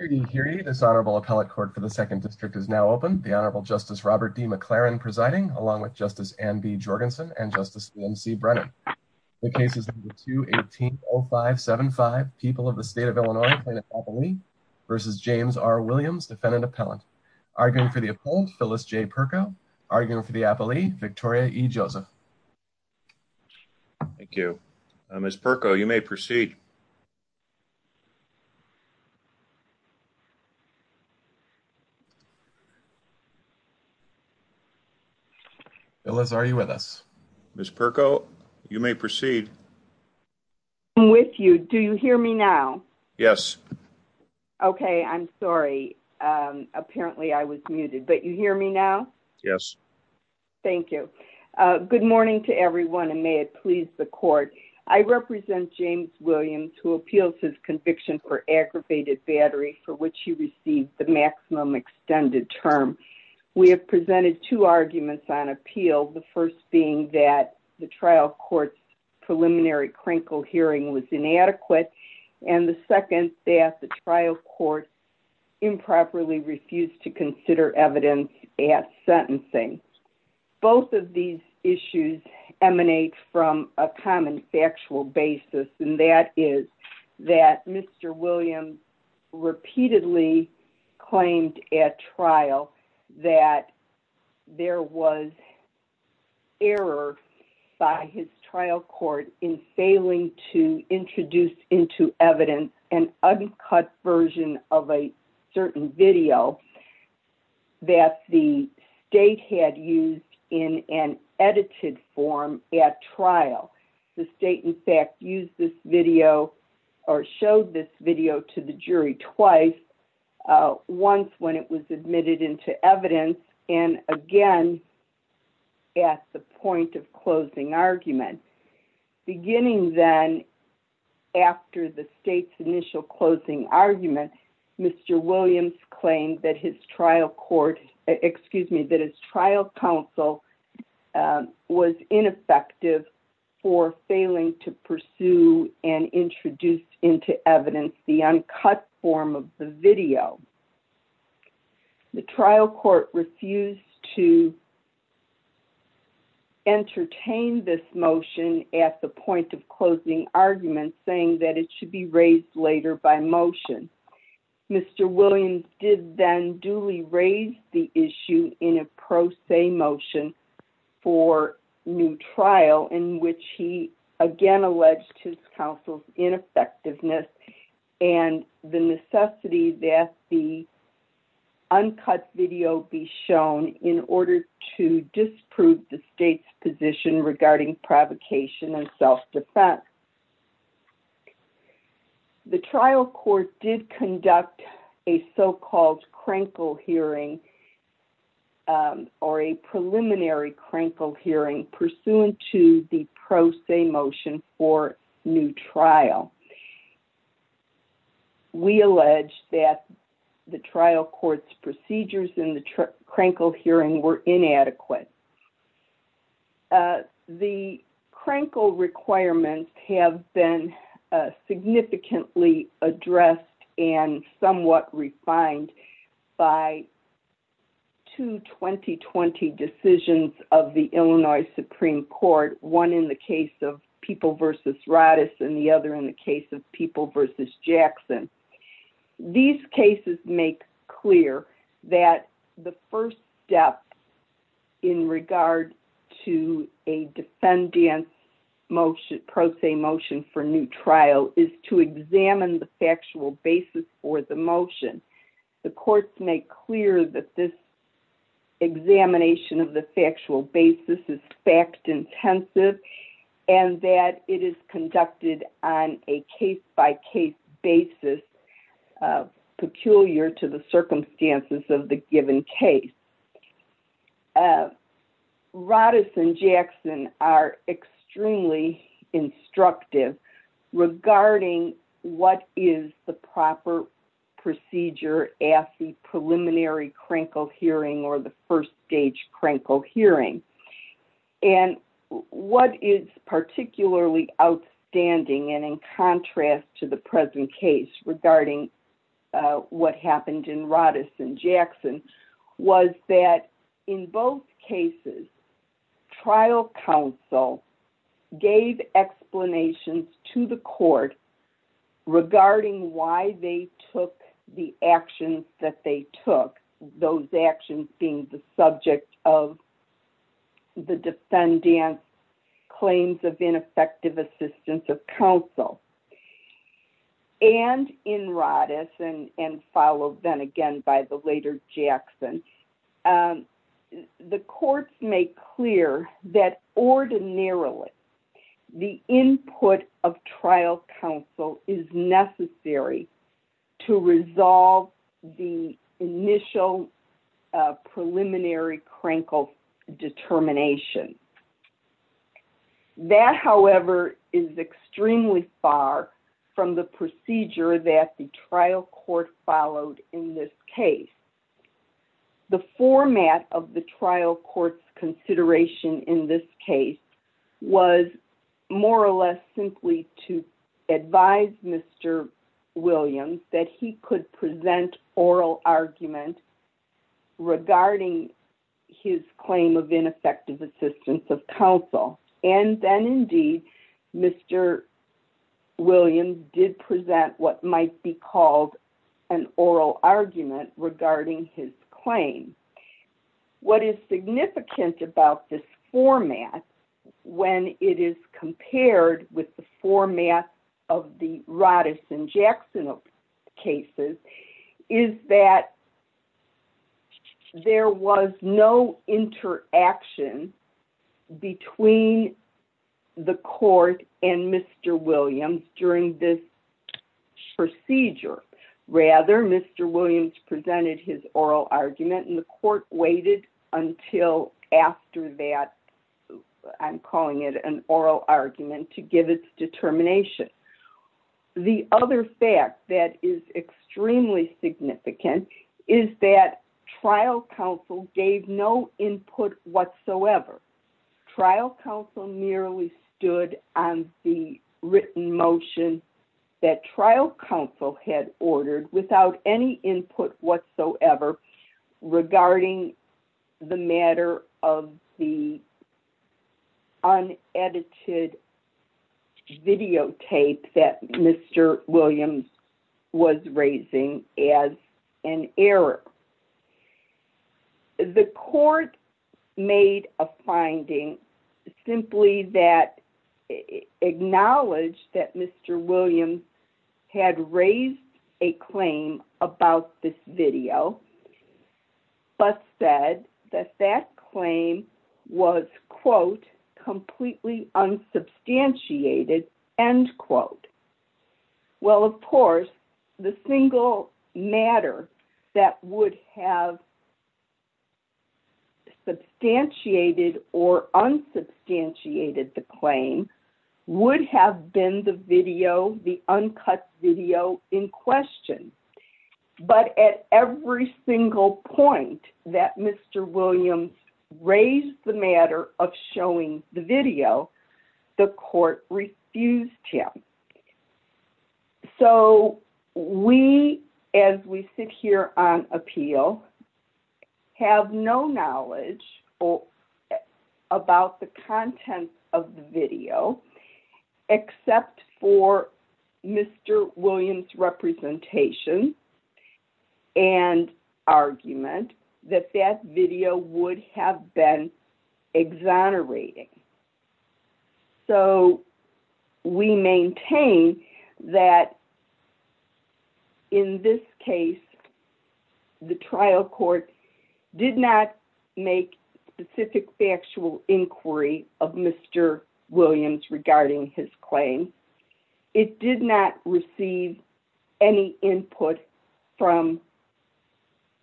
v. James R. Williams, defendant-appellant, arguing for the appellant, Phyllis J. Perko, arguing for the appellee, Victoria E. Joseph. Thank you. Ms. Perko, you may proceed. Phyllis, are you with us? Ms. Perko, you may proceed. I'm with you. Do you hear me now? Yes. Okay. I'm sorry. Apparently, I was muted, but you hear me now? Yes. Thank you. Good morning to everyone, and may it please the court. I represent James Williams, who appeals his conviction for aggravated battery, for which he received the maximum extended term. We have presented two arguments on appeal, the first being that the trial court's preliminary crinkle hearing was inadequate, and the second that the trial court improperly refused to consider evidence at sentencing. Both of these issues emanate from a common factual basis, and that is that Mr. Williams repeatedly claimed at trial that there was error by his trial court in failing to that the date had used in an edited form at trial. The state, in fact, used this video or showed this video to the jury twice, once when it was admitted into evidence, and again at the point of closing argument. Beginning then after the state's initial closing argument, Mr. Williams claimed that his trial court, excuse me, that his trial counsel was ineffective for failing to pursue and introduce into evidence the uncut form of the video. The trial court refused to entertain this motion at the point of closing argument, saying that it should be raised later by motion. Mr. Williams did then duly raise the issue in a pro se motion for new trial, in which he again alleged his counsel's ineffectiveness and the necessity that the uncut video be shown in order to disprove the state's position regarding provocation and self-defense. The trial court did conduct a so-called crankle hearing or a preliminary crankle hearing pursuant to the pro se motion for new trial. We allege that the trial court's procedures in the crankle requirements have been significantly addressed and somewhat refined by two 2020 decisions of the Illinois Supreme Court, one in the case of People v. Roddice and the other in the case of People v. Jackson. These cases make clear that the first step in regard to a defendant's pro se motion for new trial is to examine the factual basis for the motion. The courts make clear that this examination of the factual basis is fact-intensive and that it is conducted on a case-by-case basis, peculiar to the circumstances of the given case. Roddice and Jackson are extremely instructive regarding what is the proper procedure at the preliminary crankle hearing or the first stage crankle hearing. What is particularly outstanding and in contrast to the present case regarding what happened in Roddice and Jackson was that in both cases, trial counsel gave explanations to the court regarding why they took the actions that they took, those actions being the subject of the defendant's claims of ineffective assistance of counsel. And in Roddice and followed then again by the later Jackson, the courts make clear that ordinarily the input of trial counsel is necessary to resolve the initial preliminary crankle determination. That, however, is extremely far from the procedure that the trial court followed in this case. The format of the trial court's consideration in this case was more or less simply to advise Mr. Williams that he could present oral argument regarding his claim of ineffective assistance of counsel. And then indeed, Mr. Williams did present what might be called an oral argument regarding his claim. What is significant about this format when it is compared with the format of the Roddice and Jackson is that there was no interaction between the court and Mr. Williams during this procedure. Rather, Mr. Williams presented his oral argument and the court waited until after that, I'm calling it an oral argument, to give its determination. The other fact that is extremely significant is that trial counsel gave no input whatsoever. Trial counsel merely stood on the written motion that trial counsel had ordered without any input whatsoever regarding the matter of the unedited videotape that Mr. Williams was raising as an error. The court made a finding simply that acknowledged that Mr. Williams had raised a claim about this video, but said that that claim was, quote, completely unsubstantiated, end quote. Well, of course, the single matter that would have substantiated or unsubstantiated the claim would have been the video, the uncut video in question. But at every single point that Mr. Williams raised the matter of showing the video, the court refused him. So, we, as we sit here on appeal, have no knowledge about the content of the video except for Mr. Williams' representation and argument that that video would have been exonerating. So, we maintain that in this case, the trial court did not make specific factual inquiry of Mr. Williams regarding his claim. It did not receive any input from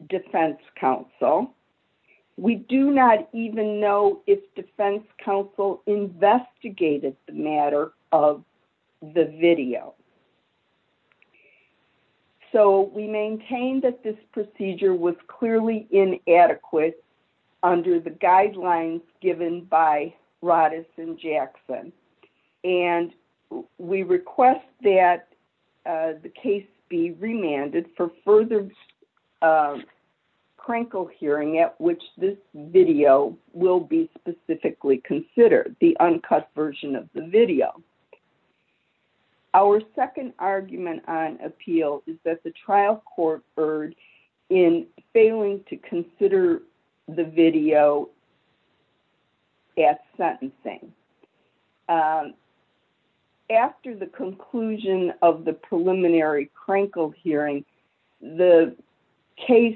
defense counsel. We do not even know if defense counsel investigated the matter of the video. So, we maintain that this procedure was clearly inadequate under the guidelines given by Roddus and Jackson. And we request that the case be remanded for further crankle hearing at which this video will be specifically considered, the uncut version of the video. Our second argument on appeal is that the trial court erred in failing to consider the video at sentencing. After the conclusion of the preliminary crankle hearing, the case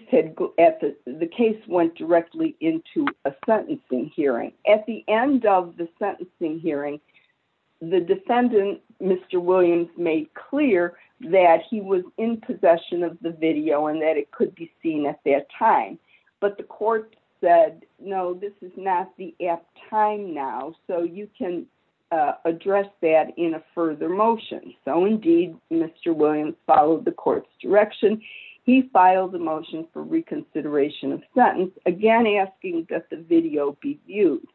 went directly into a sentencing hearing. At the end of the sentencing hearing, the defendant, Mr. Williams, made clear that he was in possession of the video and that it could be seen at that time. But the court said, no, this is not the apt time now. So, you can address that in a further motion. So, indeed, Mr. Williams followed the court's direction. He filed a motion for reconsideration of sentence, again asking that the video be viewed.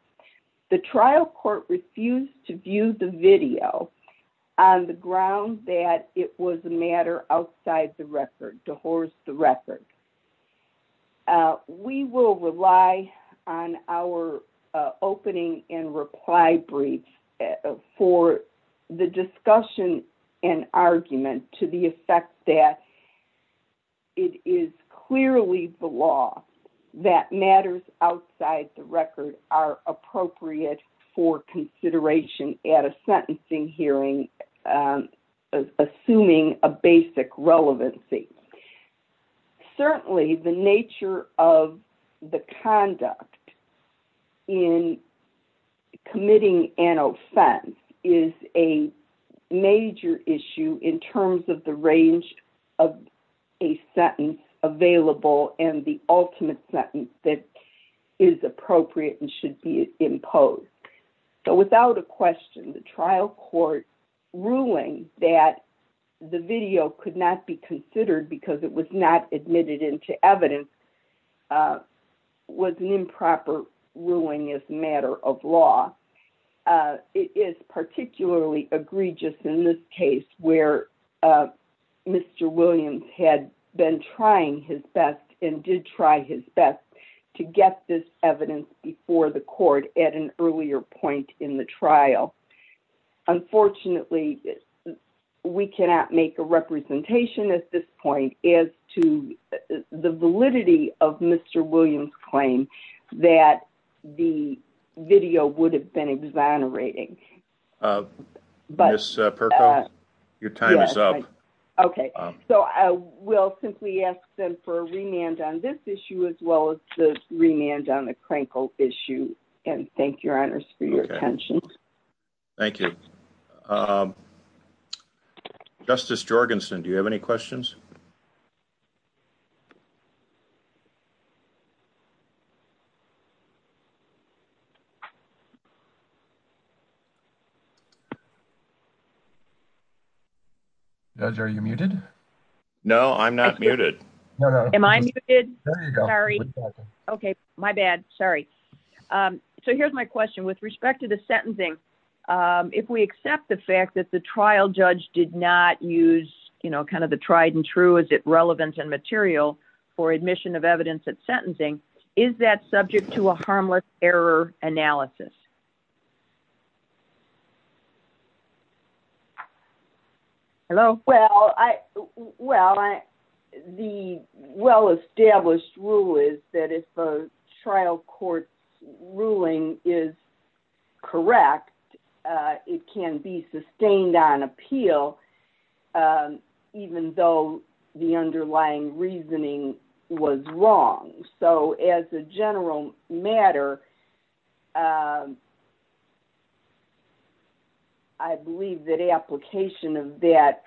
The trial court refused to view the video on the ground that it was a matter outside the record, the record. We will rely on our opening and reply brief for the discussion and argument to the effect that it is clearly the law that matters outside the record are appropriate for consideration at a sentencing hearing, assuming a basic relevancy. Certainly, the nature of the conduct in committing an offense is a major issue in terms of the range of a sentence available and the ultimate sentence that is appropriate and should be imposed. So, without a question, the trial court ruling that the video could not be considered because it was not admitted into evidence was an improper ruling as a matter of law. It is particularly egregious in this case where Mr. Williams had been trying his best and did try his best to get this evidence before the court at an earlier point in the trial. Unfortunately, we cannot make a representation at this point as to the validity of Mr. Williams' claim that the video would have been exonerating. Mr. Perkins, your time is up. Okay. So, I will simply ask them for a remand on this issue as well as the remand on the Crankle issue and thank your honors for your attention. Thank you. Justice Jorgensen, do you have any questions? Judge, are you muted? No, I'm not muted. Am I muted? Sorry. Okay, my bad. Sorry. So, here's my question. With respect to sentencing, if we accept the fact that the trial judge did not use, you know, kind of the tried and true, is it relevant and material for admission of evidence at sentencing, is that subject to a harmless error analysis? Hello? Well, the well-established rule is that if a trial court's ruling is correct, it can be sustained on appeal even though the underlying reasoning was wrong. So, as a general matter, I believe that application of that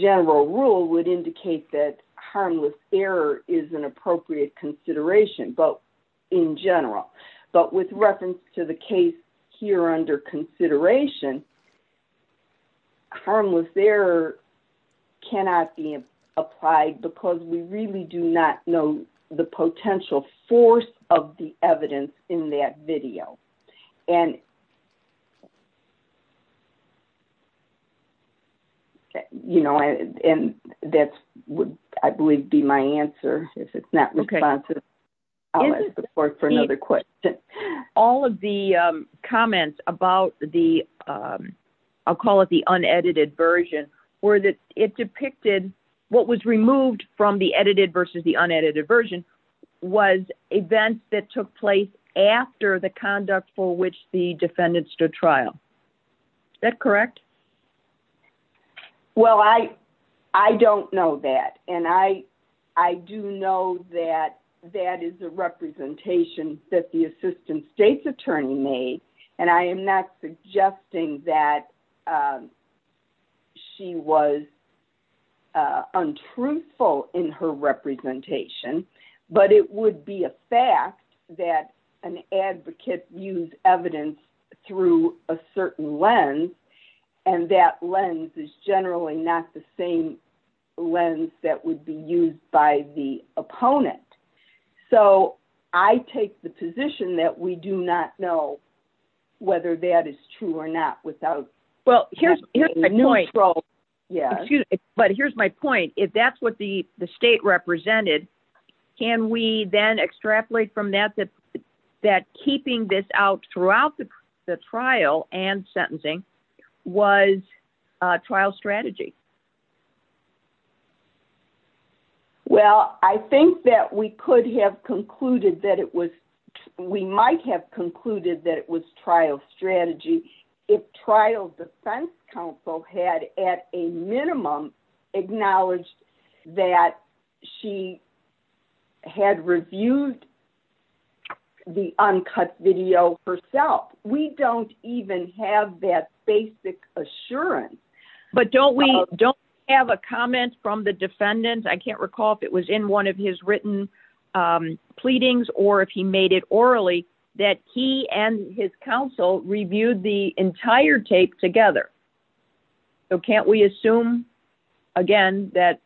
general rule would indicate that harmless error is an appropriate consideration, but in general. But with reference to the case here under consideration, harmless error cannot be applied because we really do not know the potential force of the evidence in that video. And, you know, and that would, I believe, be my answer if it's not responsive. I'll ask the court for another question. All of the comments about the, I'll call it the unedited version, were that it depicted what was removed from the edited versus the unedited version was events that took place after the conduct for which the defendants stood trial. Is that correct? Well, I don't know that, and I do know that that is a representation that the assistant state's attorney made, and I am not suggesting that she was untruthful in her representation, but it would be a fact that an advocate used evidence through a certain lens, and that lens is generally not the same lens that would be used by the opponent. So, I take the position that we do not know whether that is true or not. Well, here's my point. But here's my point. If that's what the state represented, can we then extrapolate from that that keeping this out throughout the trial and sentencing was a trial strategy? Well, I think that we could have concluded that it was, we might have concluded that it was trial had reviewed the uncut video herself. We don't even have that basic assurance. But don't we don't have a comment from the defendant? I can't recall if it was in one of his written pleadings, or if he made it orally, that he and his counsel reviewed the entire tape together. So, can't we assume, again, that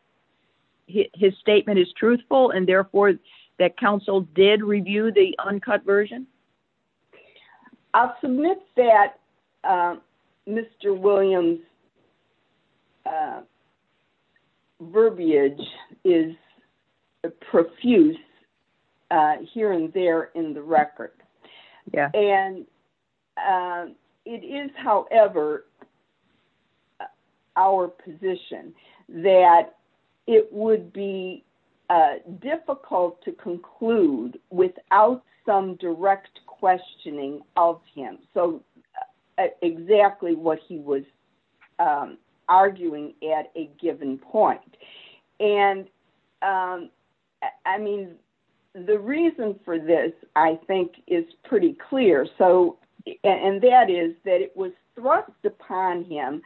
his statement is truthful, and therefore, that counsel did review the uncut version? I'll submit that Mr. Williams' verbiage is profuse here and there in the record. And it is, however, our position that it would be difficult to conclude without some direct questioning of him. So, exactly what he was arguing at a given point. And, I mean, the reason for this, I think, is pretty clear. So, and that is that it was thrust upon him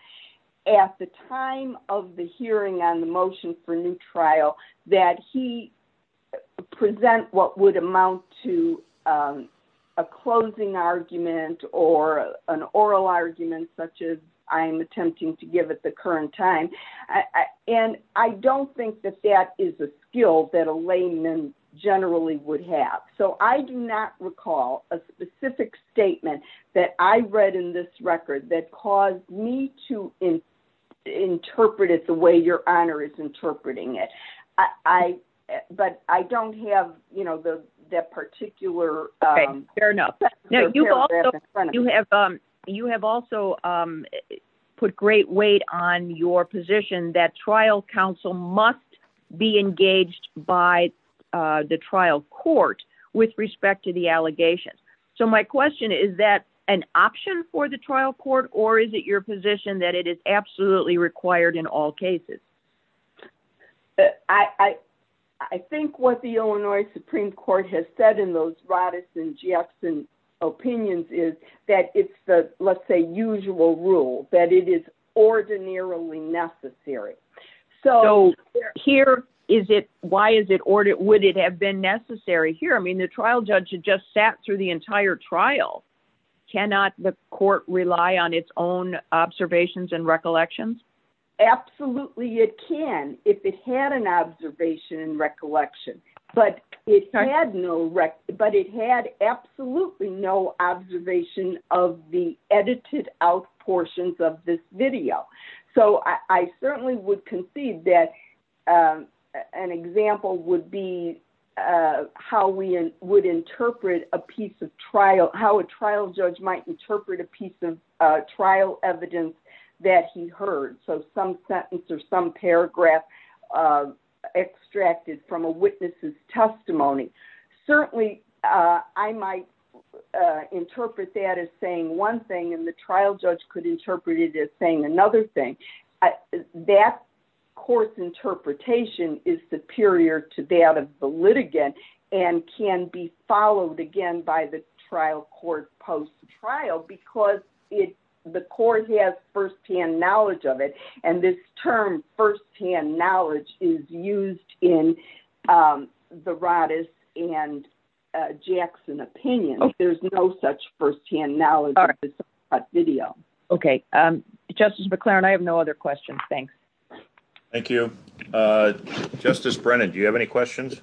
at the time of the hearing on the motion for new trial, that he present what would amount to a closing argument or an oral argument, such as I'm attempting to give at the current time. And I don't think that that is a skill that a layman generally would have. So, I do not recall a specific statement that I read in this record that caused me to interpret it the way Your Honor is interpreting it. But I don't have, you know, that particular... Okay, fair enough. You have also put great weight on your position that trial counsel must be engaged by the trial court with respect to the allegations. So, my question, is that an option for the trial court or is it your position that it is absolutely required in all cases? I think what the Illinois Supreme Court has said in those Roddice and Jackson opinions is that it's the, let's say, usual rule that it is ordinarily necessary. So, here, is it, why is it, or would it have been necessary here? I mean, the trial judge had just sat through the entire trial. Cannot the court rely on its own observations and recollections? Absolutely, it can if it had an observation and recollection. But it had no, but it had absolutely no observation of the edited out portions of this video. So, I certainly would concede that an example would be how we would interpret a piece of trial, how a trial judge might interpret a piece of trial evidence that he heard. So, some sentence or some paragraph extracted from a witness's testimony. Certainly, I might interpret that as saying one thing and trial judge could interpret it as saying another thing. That course interpretation is superior to that of the litigant and can be followed again by the trial court post-trial because it, the court has first-hand knowledge of it and this term first-hand knowledge is used in the Roddice and Okay, um, Justice McClaren, I have no other questions. Thanks. Thank you. Uh, Justice Brennan, do you have any questions?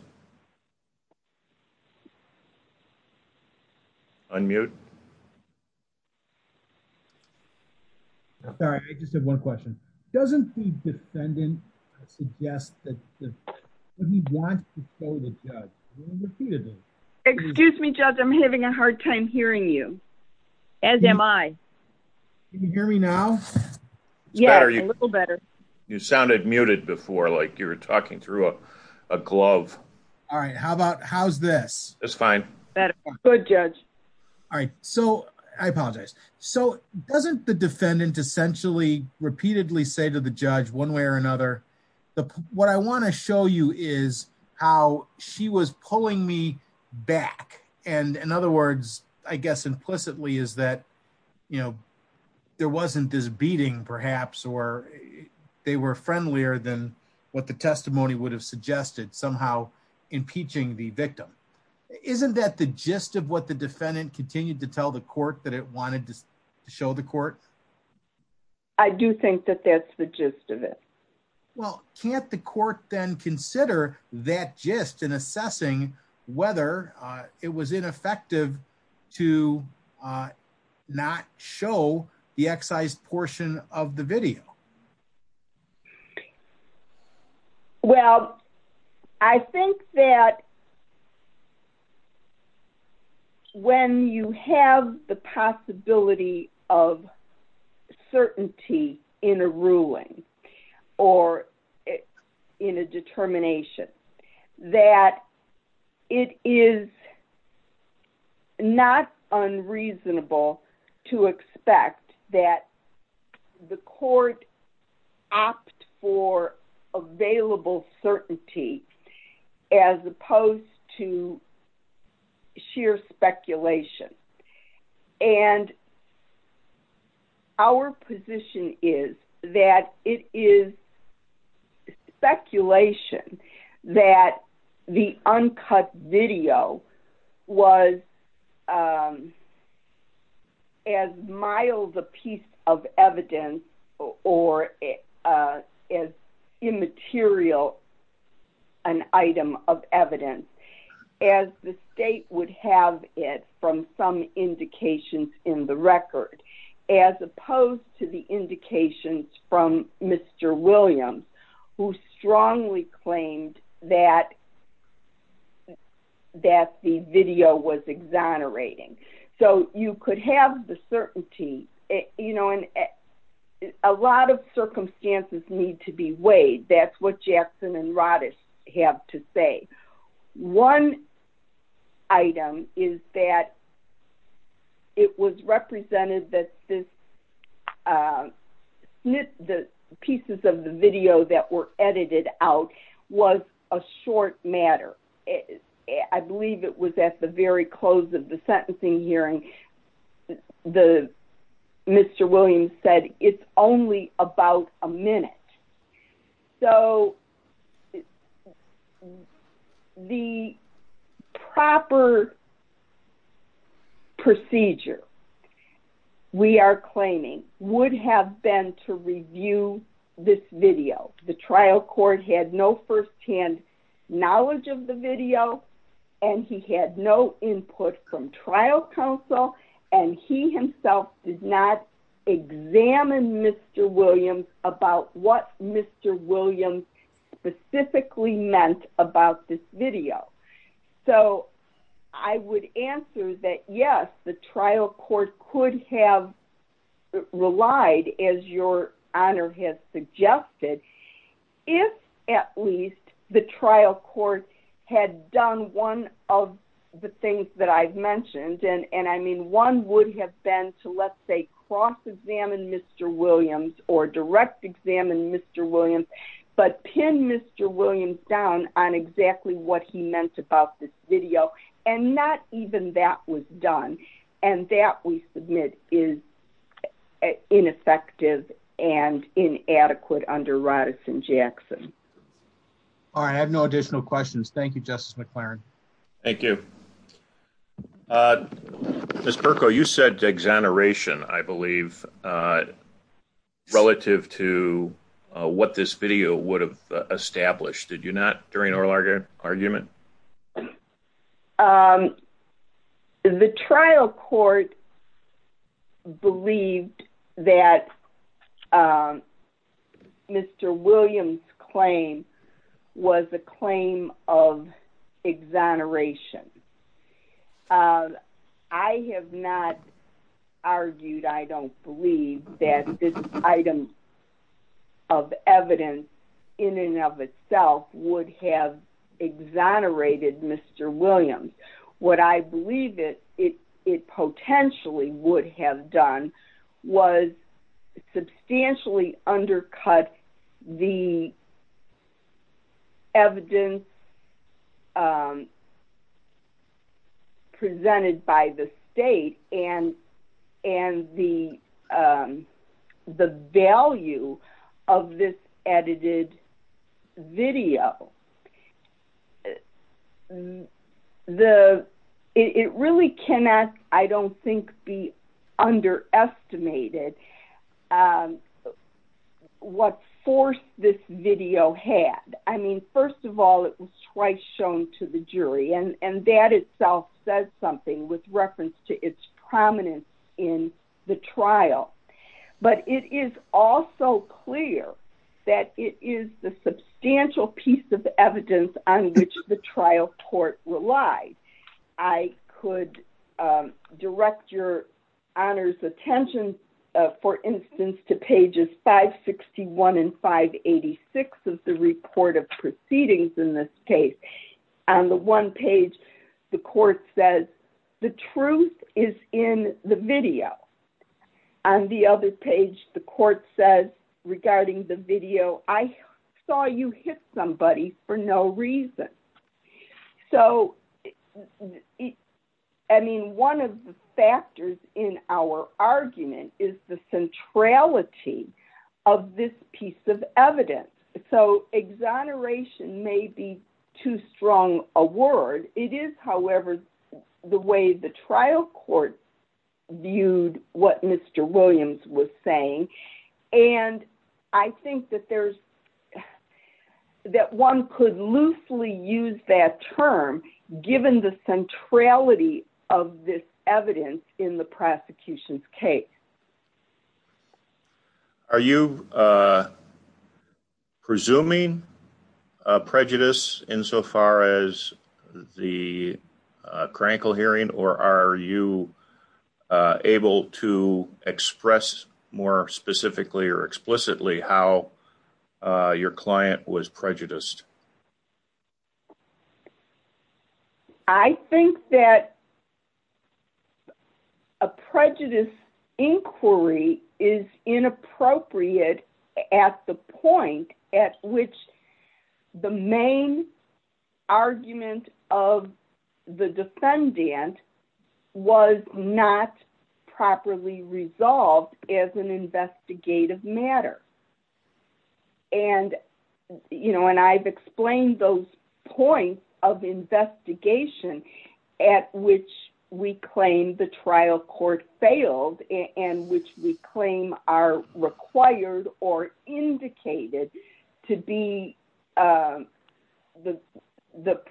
Unmute. Sorry, I just have one question. Doesn't the defendant suggest that he wants to show the Can you hear me now? Yes, a little better. You sounded muted before, like you were talking through a glove. All right, how about, how's this? It's fine. Better. Good, Judge. All right, so, I apologize. So, doesn't the defendant essentially repeatedly say to the judge one way or another, what I want to show you is how she was pulling me back. And in other words, I guess implicitly is that, you know, there wasn't this beating perhaps or they were friendlier than what the testimony would have suggested somehow impeaching the victim. Isn't that the gist of what the defendant continued to tell the court that it wanted to show the court? I do think that that's the gist of it. Well, can't the court then consider that gist in assessing whether it was ineffective to not show the excised portion of the video? Well, I think that when you have the possibility of certainty in a ruling or in a determination, that it is not unreasonable to expect that the court opt for available certainty as opposed to as mild a piece of evidence or as immaterial an item of evidence as the state would have it from some indications in the record, as opposed to the indications from Mr. Williams, who strongly claimed that the video was exonerating. So you could have the certainty, you know, and a lot of circumstances need to be weighed. That's what Jackson and Roddice have to say. One item is that it was represented that the pieces of the video that were edited out was a short matter. I believe it was at the very close of the sentencing hearing that Mr. Williams said, it's only about a minute. So the proper procedure we are claiming would have been to review this video. The trial court had no firsthand knowledge of the video, and he had no input from trial counsel, and he himself did not examine Mr. Williams about what Mr. Williams specifically meant about this video. So I would answer that, yes, the trial court could have relied, as your honor has suggested, if at least the trial court had done one of the things that I've mentioned, and I mean one would have been to let's say cross-examine Mr. Williams or direct examine Mr. Williams, but pin Mr. Williams down on exactly what he meant about this video, and not even that was done, and that we submit is ineffective and inadequate under Roddice and Jackson. All right, I have no additional questions. Thank you, Justice McLaren. Thank you. Ms. Perko, you said exoneration, I believe, relative to what this video would have argued. The trial court believed that Mr. Williams' claim was a claim of exoneration. I have not argued, I don't believe, that this item of evidence in and of itself would have exonerated Mr. Williams. What I believe it potentially would have done was substantially undercut the evidence presented by the state and the value of this edited video. It really cannot, I don't think, be underestimated what force this video had. I mean, first of all, it was twice shown to the jury, and that itself says something with reference to its prominence in the trial, but it is also clear that it is the substantial piece of evidence that was used evidence on which the trial court relied. I could direct your honor's attention, for instance, to pages 561 and 586 of the report of proceedings in this case. On the one page, the court says, the truth is in the video. On the other page, the court says, regarding the video, I saw you hit somebody for no reason. So, I mean, one of the factors in our argument is the centrality of this piece of evidence. So, exoneration may be too strong a word. It is, however, the way the trial court viewed what Mr. Williams was saying, and I think that there's that one could loosely use that term given the centrality of this evidence in the prosecution's case. Are you presuming prejudice insofar as the Krankel hearing, or are you able to express more specifically or explicitly how your client was prejudiced? I think that a prejudice inquiry is inappropriate at the point at which the main argument of the defendant was not properly resolved as an investigative matter. And, you know, and I've explained those points of investigation at which we claim the trial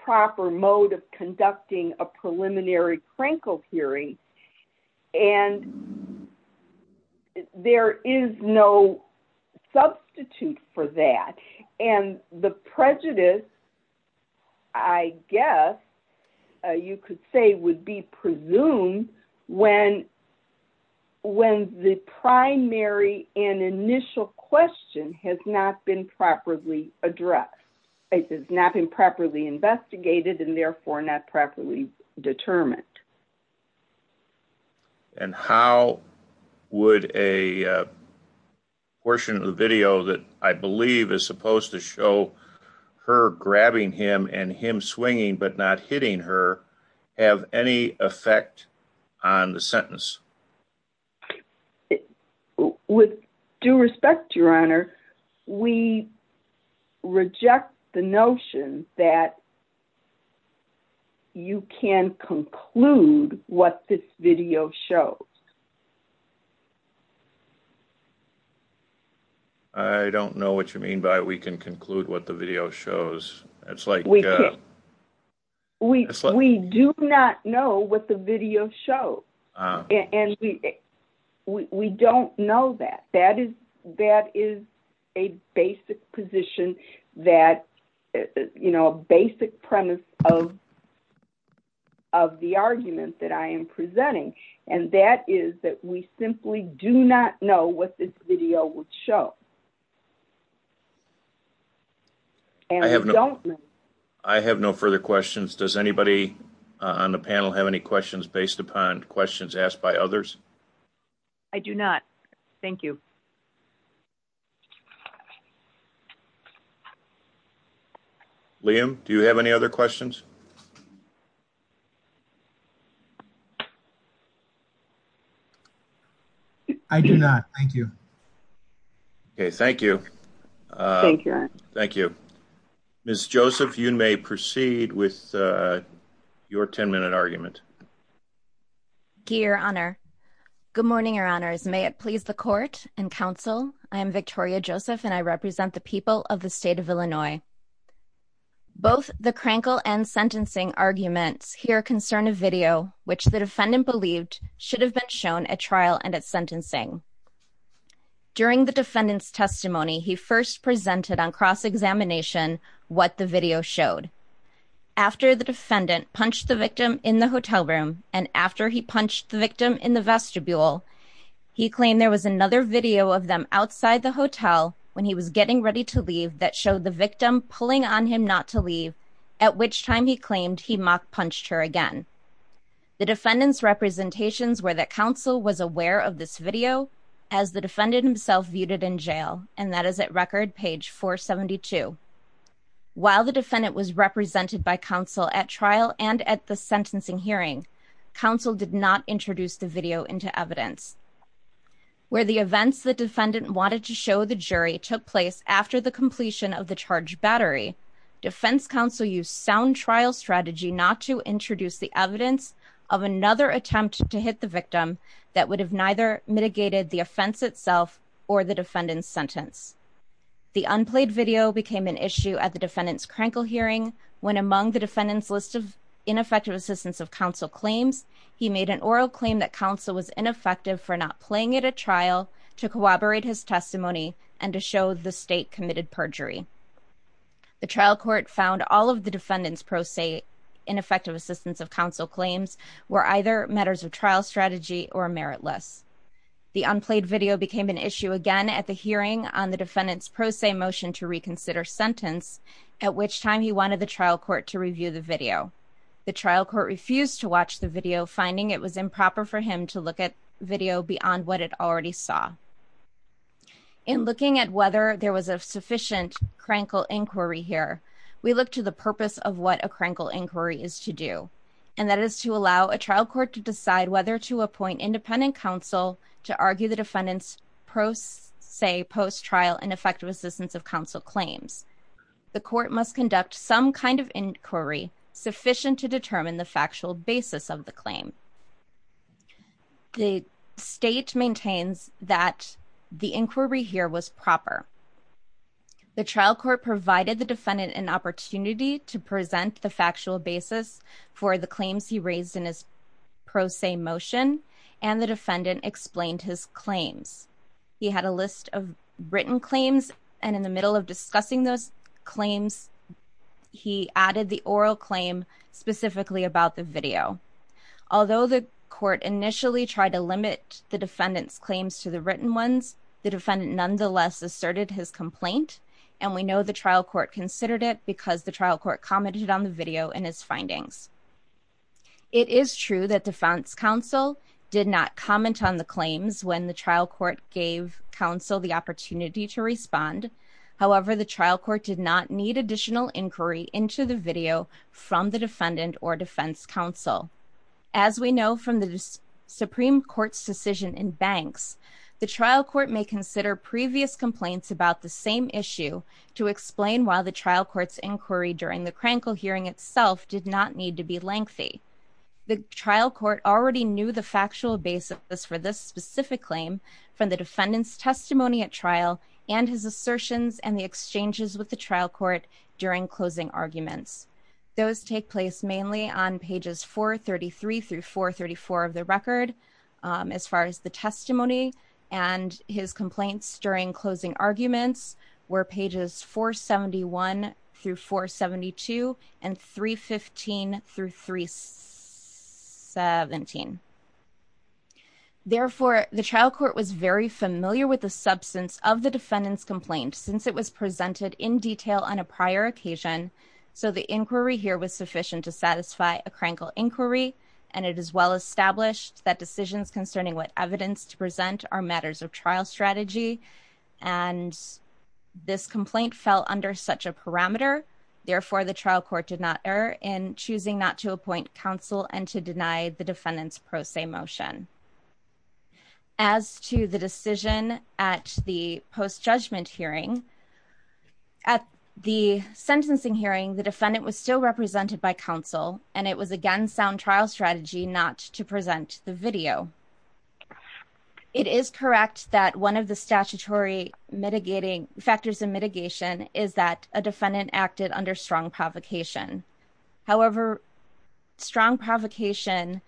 proper mode of conducting a preliminary Krankel hearing, and there is no substitute for that. And the prejudice, I guess, you could say would be presumed when the primary and initial question has not been properly addressed. It has not been properly investigated and therefore not properly determined. And how would a portion of the video that I believe is supposed to show her grabbing him and him swinging but not hitting her have any effect on the sentence? With due respect, Your Honor, we reject the notion that you can conclude what this video shows. I don't know what you mean by we can conclude what the video shows. It's like... We do not know what the video shows. And we don't know that. That is a basic position that, you know, a basic premise of the argument that I am presenting. And that is that we simply do not know what this video would show. I have no further questions. Does anybody on the panel have any questions based upon questions asked by others? I do not. Thank you. Liam, do you have any other questions? I do not. Thank you. Okay. Thank you. Thank you. Thank you. Ms. Joseph, you may proceed with your 10-minute argument. Thank you, Your Honor. Good morning, Your Honors. May it please the Court and counsel, I am Victoria Joseph and I represent the people of the state of Illinois. Both the crankle and sentencing arguments here concern a video which the defendant believed should have been shown at trial and at sentencing. During the defendant's testimony, he first presented on cross-examination what the video showed. After the defendant punched the victim in the hotel room and after he punched the victim in the vestibule, he claimed there was another video of them outside the hotel when he was getting ready to leave that showed the victim pulling on him not to leave, at which time he claimed he mock-punched her again. The defendant's representations were that counsel was aware of this video as the defendant himself viewed it in jail, and that is at record page 472. While the defendant was represented by counsel at trial and at the sentencing hearing, counsel did not introduce the video into evidence. Where the events the defendant wanted to show the jury took place after the completion of the charged battery, defense counsel used sound trial strategy not to introduce the evidence of another attempt to hit the victim that would have mitigated the offense itself or the defendant's sentence. The unplayed video became an issue at the defendant's Krankel hearing when among the defendant's list of ineffective assistance of counsel claims, he made an oral claim that counsel was ineffective for not playing at a trial to corroborate his testimony and to show the state committed perjury. The trial court found all of the defendant's pro se ineffective assistance of counsel claims were either matters of trial strategy or meritless. The unplayed video became an issue again at the hearing on the defendant's pro se motion to reconsider sentence, at which time he wanted the trial court to review the video. The trial court refused to watch the video, finding it was improper for him to look at video beyond what it already saw. In looking at whether there was a sufficient Krankel inquiry here, we look to the purpose of what a Krankel inquiry is to do, and that is to allow a trial court to decide whether to appoint independent counsel to argue the defendant's pro se post trial and effective assistance of counsel claims. The court must conduct some kind of inquiry sufficient to determine the factual basis of the claim. The state maintains that the inquiry here was proper. The trial court provided the claims he raised in his pro se motion, and the defendant explained his claims. He had a list of written claims, and in the middle of discussing those claims, he added the oral claim specifically about the video. Although the court initially tried to limit the defendant's claims to the written ones, the defendant nonetheless asserted his complaint, and we know the trial court considered it because the trial court commented on the video and his findings. It is true that defense counsel did not comment on the claims when the trial court gave counsel the opportunity to respond. However, the trial court did not need additional inquiry into the video from the defendant or defense counsel. As we know from the Supreme Court's decision in banks, the trial court may consider previous complaints about the same issue to explain why the trial court's inquiry during the Krankel hearing itself did not need to be lengthy. The trial court already knew the factual basis for this specific claim from the defendant's testimony at trial and his assertions and the exchanges with the trial court during closing arguments. Those take place mainly on pages 433 through 434 of the record as far as the testimony and his complaints during closing arguments were pages 471 through 472 and 315 through 317. Therefore, the trial court was very familiar with the substance of the defendant's complaint since it was presented in detail on a Krankel inquiry and it is well established that decisions concerning what evidence to present are matters of trial strategy and this complaint fell under such a parameter. Therefore, the trial court did not err in choosing not to appoint counsel and to deny the defendant's pro se motion. As to the decision at the post-judgment hearing, at the sentencing hearing, the defendant was still it was again sound trial strategy not to present the video. It is correct that one of the statutory mitigating factors of mitigation is that a defendant acted under strong provocation. However, strong provocation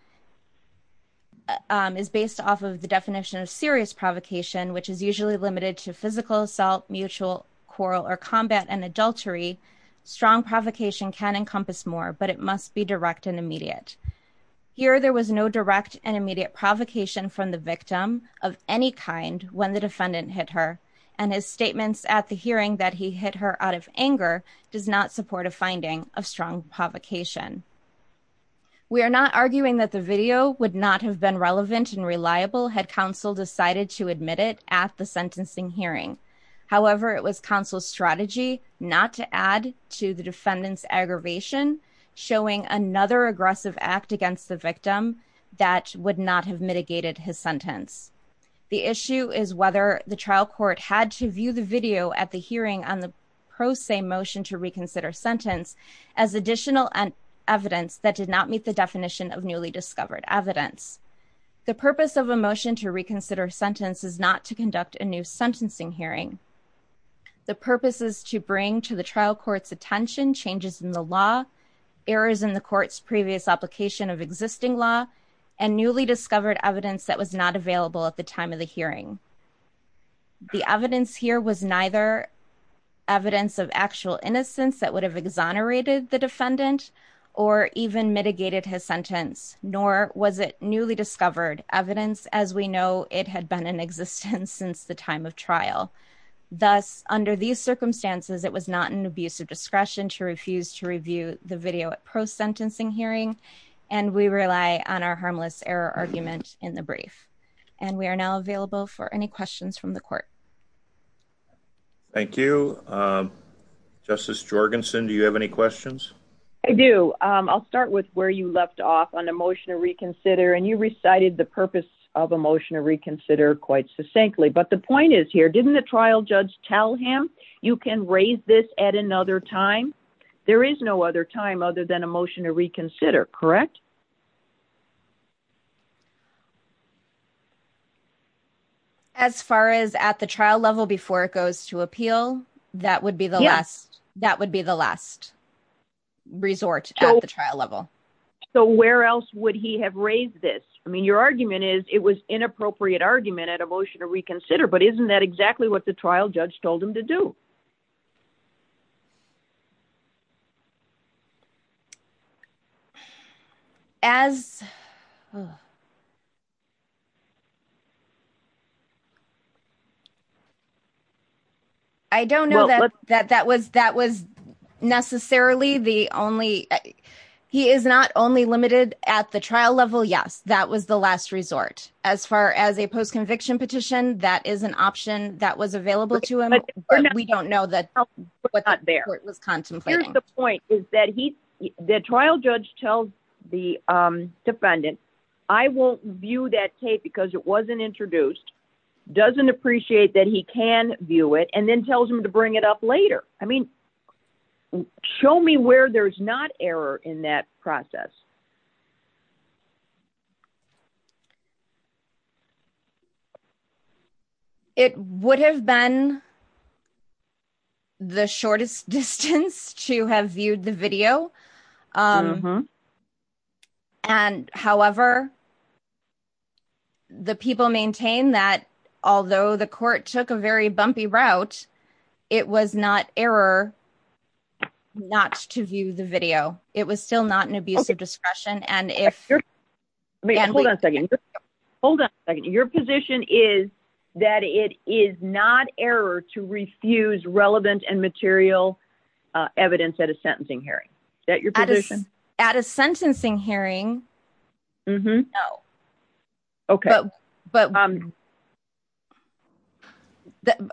is based off of the definition of serious provocation, which is usually limited to physical assault, mutual quarrel, or combat and adultery. Strong provocation can encompass more, but it must be direct and immediate. Here there was no direct and immediate provocation from the victim of any kind when the defendant hit her and his statements at the hearing that he hit her out of anger does not support a finding of strong provocation. We are not arguing that the video would not have been relevant and reliable had counsel decided to admit it at the sentencing hearing. However, it was counsel's strategy not to add to the defendant's aggravation, showing another aggressive act against the victim that would not have mitigated his sentence. The issue is whether the trial court had to view the video at the hearing on the pro se motion to reconsider sentence as additional evidence that did not meet the definition of newly discovered evidence. The purpose of a motion to reconsider sentence is not to conduct a new sentencing hearing. The purpose is to bring to the trial court's attention changes in the law, errors in the court's previous application of existing law, and newly discovered evidence that was not available at the time of the hearing. The evidence here was neither evidence of actual innocence that would have exonerated the defendant or even mitigated his sentence, nor was it newly discovered evidence as we know it had been in existence since the time of trial. Thus, under these circumstances, it was not an abuse of discretion to refuse to review the video at post sentencing hearing, and we rely on our harmless error argument in the brief. And we are now available for any questions from the court. Thank you. Justice Jorgensen, do you have any questions? I do. I'll start with where you left off on a motion to reconsider, and you recited the purpose of a motion to reconsider quite succinctly. But the point is here, didn't the trial judge tell him you can raise this at another time? There is no other time other than a motion to reconsider, correct? As far as at the trial level before it goes to appeal, that would be the last resort at the trial level. So where else would he have raised this? I mean, your argument is it was inappropriate argument at a motion to reconsider, but isn't that exactly what the trial judge told him to do? I don't know that that was necessarily the only. He is not only limited at the trial level. Yes, that was the last resort. As far as a post conviction petition, that is an option that was available to him. But we don't know that there was contemplating the point is that he the trial judge tells the defendant, I won't view that tape because it wasn't introduced, doesn't appreciate that he can view it and then tells him to bring it up later. I mean, show me where there's not error in that process. It would have been the shortest distance to have viewed the video. And however, the people maintain that although the court took a very bumpy route, it was not error not to view the video. It was still not an abuse of discretion. And if hold on, your position is that it is not error to refuse relevant and material evidence at a sentencing hearing that you're at a sentencing hearing. Oh, okay. But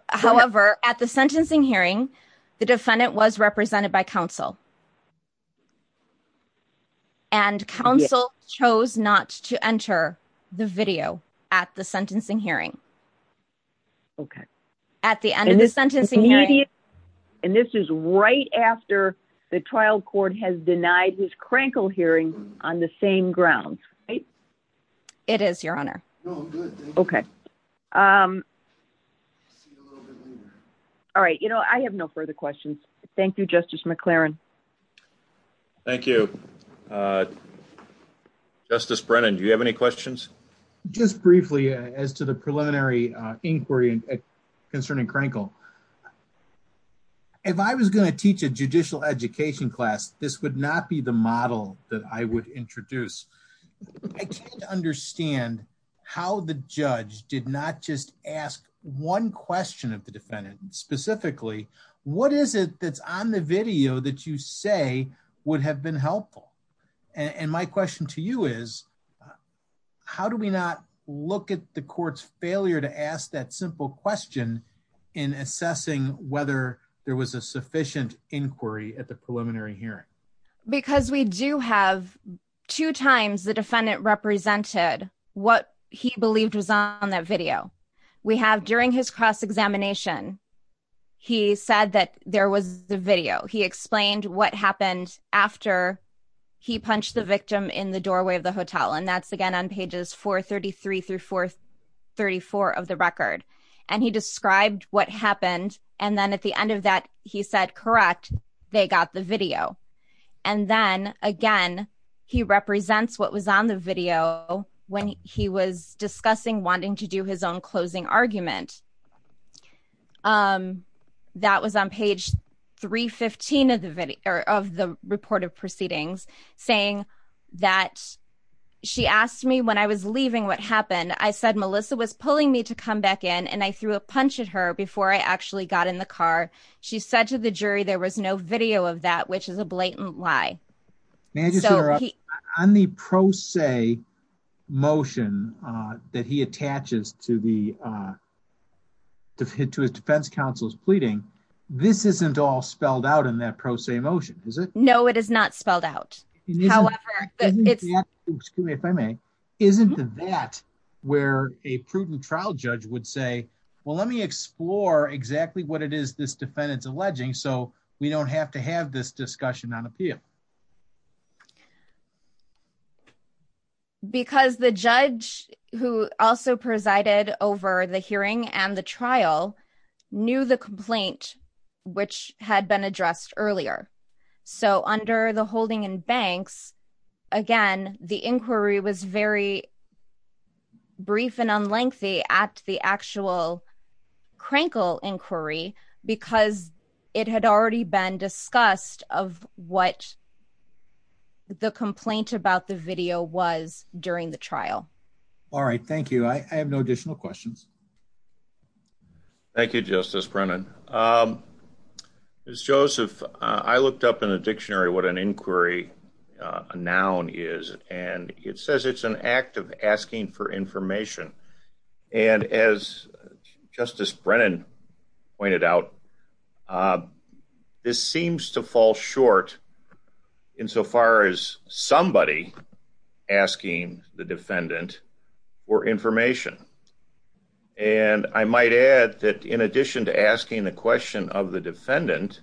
however, at the sentencing hearing, the defendant was represented by counsel. And counsel chose not to enter the video at the sentencing hearing. Okay. At the end of this sentencing. And this is right after the trial court has denied his crankle hearing on the same ground, right? It is your honor. Okay. Um, all right. You know, I have no further questions. Thank you, Justice McLaren. Thank you. Uh, Justice Brennan, do you have any questions just briefly as to the preliminary inquiry concerning crankle? If I was going to teach a judicial education class, this would not be the model that I would introduce. I can't understand how the judge did not just ask one question of the defendant specifically, what is it that's on the video that you say would have been helpful? And my question to you is, how do we not look at the court's failure to ask that simple question in assessing whether there was a sufficient inquiry at the preliminary hearing? Because we do have two times the defendant represented what he believed was on that video. We have during his cross-examination, he said that there was the video. He explained what happened after he punched the victim in the doorway of the hotel. And that's again on pages 433 through 434 of the record. And he described what happened. And then at the end of that, he said, correct, they got the video. And then again, he represents what was on the video when he was discussing wanting to do his own closing argument. That was on page 315 of the video of the report of proceedings saying that she asked me when I was leaving what happened. I said, Melissa was pulling me to come back in and I threw a punch at her before I actually got in the car. She said to the jury there was no video of that, which is a blatant lie. May I just interrupt? On the pro se motion that he attaches to his defense counsel's pleading, this isn't all spelled out in that pro se motion, is it? No, it is not spelled out. However, it's... Excuse me if I may. Isn't that where a prudent trial judge would say, well, let me explore exactly what it is this defendant's alleging so we don't have to have this discussion on appeal? Because the judge who also presided over the hearing and the trial knew the complaint which had been addressed earlier. So under the holding in banks, again, the inquiry was very brief and unlengthy at the actual Krenkel inquiry because it had already been discussed of what the complaint about the video was during the trial. All right, thank you. I have no additional questions. Thank you, Justice Brennan. Ms. Joseph, I looked up in the dictionary what an inquiry noun is, and it says it's an act of asking for information. And as Justice Brennan pointed out, this seems to fall short insofar as somebody asking the defendant for information. And I might add that in addition to asking the question of the defendant,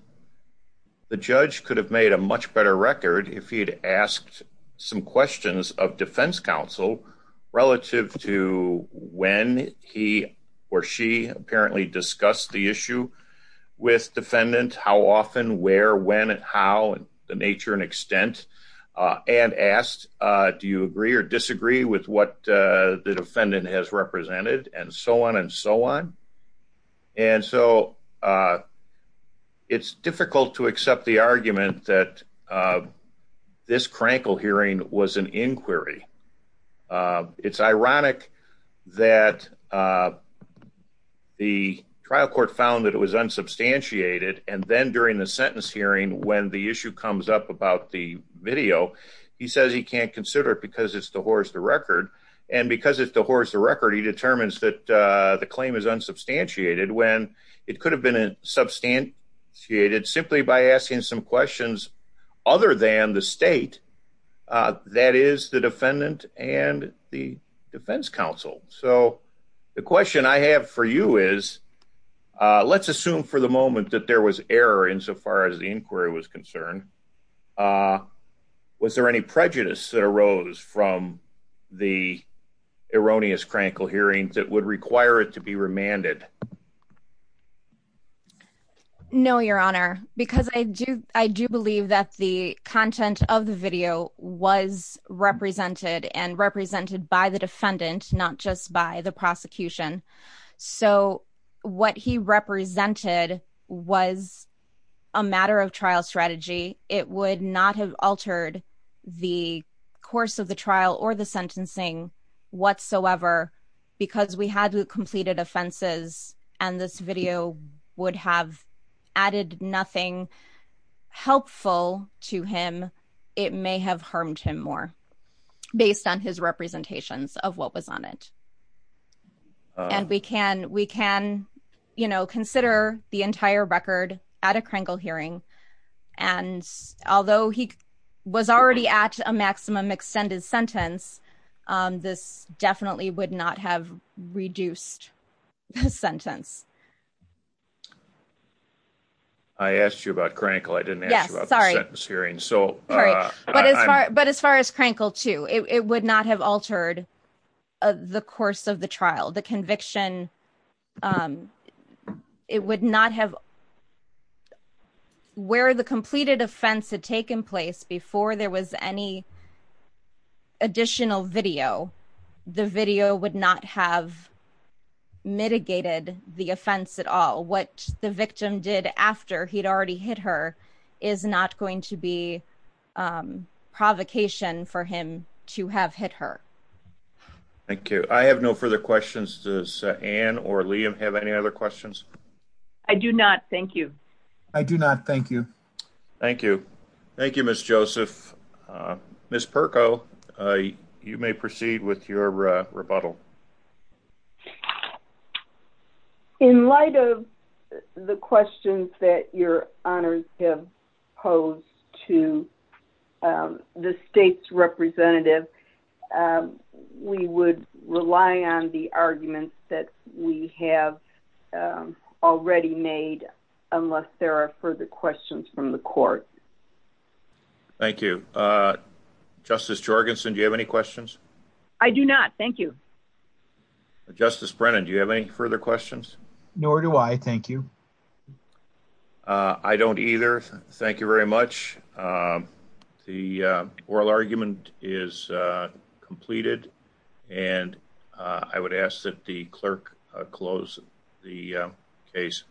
the judge could have made a much better record if he'd asked some questions of defense counsel relative to when he or she apparently discussed the issue with defendant, how often, where, when, and how, the nature and extent, and asked, do you agree or disagree with what the defendant has represented, and so on and so on. And so it's difficult to accept the argument that this Krenkel hearing was an inquiry. It's ironic that the trial court found that it was unsubstantiated, and then during the sentence hearing when the issue comes up about the video, he says he can't consider it because it's the horse the record. And because it's the horse the record, he determines that the claim is unsubstantiated when it could have been substantiated simply by asking some questions other than the state, that is the defendant and the defense counsel. So the question I have for you is, let's assume for the moment that there was error insofar as the inquiry was concerned, was there any prejudice that arose from the erroneous Krenkel hearings that would require it to be remanded? No, your honor, because I do, I do believe that the content of the video was represented and a matter of trial strategy. It would not have altered the course of the trial or the sentencing whatsoever because we had completed offenses and this video would have added nothing helpful to him. It may have harmed him more based on his representations of what was on it. And we can, we can, you know, consider the entire record at a Krenkel hearing. And although he was already at a maximum extended sentence, this definitely would not have reduced the sentence. I asked you about Krenkel, I didn't ask you about the sentence hearing. But as far as Krenkel too, it would not have altered the course of the trial, the conviction. It would not have, where the completed offense had taken place before there was any additional video, the video would not have mitigated the offense at all. What the victim did after he'd already hit her is not going to be provocation for him to have hit her. Thank you. I have no further questions. Does Ann or Liam have any other questions? I do not. Thank you. I do not. Thank you. Thank you. Thank you, Ms. Joseph. Ms. Perko, you may proceed with your rebuttal. In light of the questions that your honors have posed to the state's representative, we would rely on the arguments that we have already made, unless there are further questions from the court. Thank you. Justice Jorgensen, do you have any questions? I do not. Thank you. Justice Brennan, do you have any further questions? Nor do I. Thank you. I don't either. Thank you very much. The oral argument is completed, and I would ask that the clerk close the case.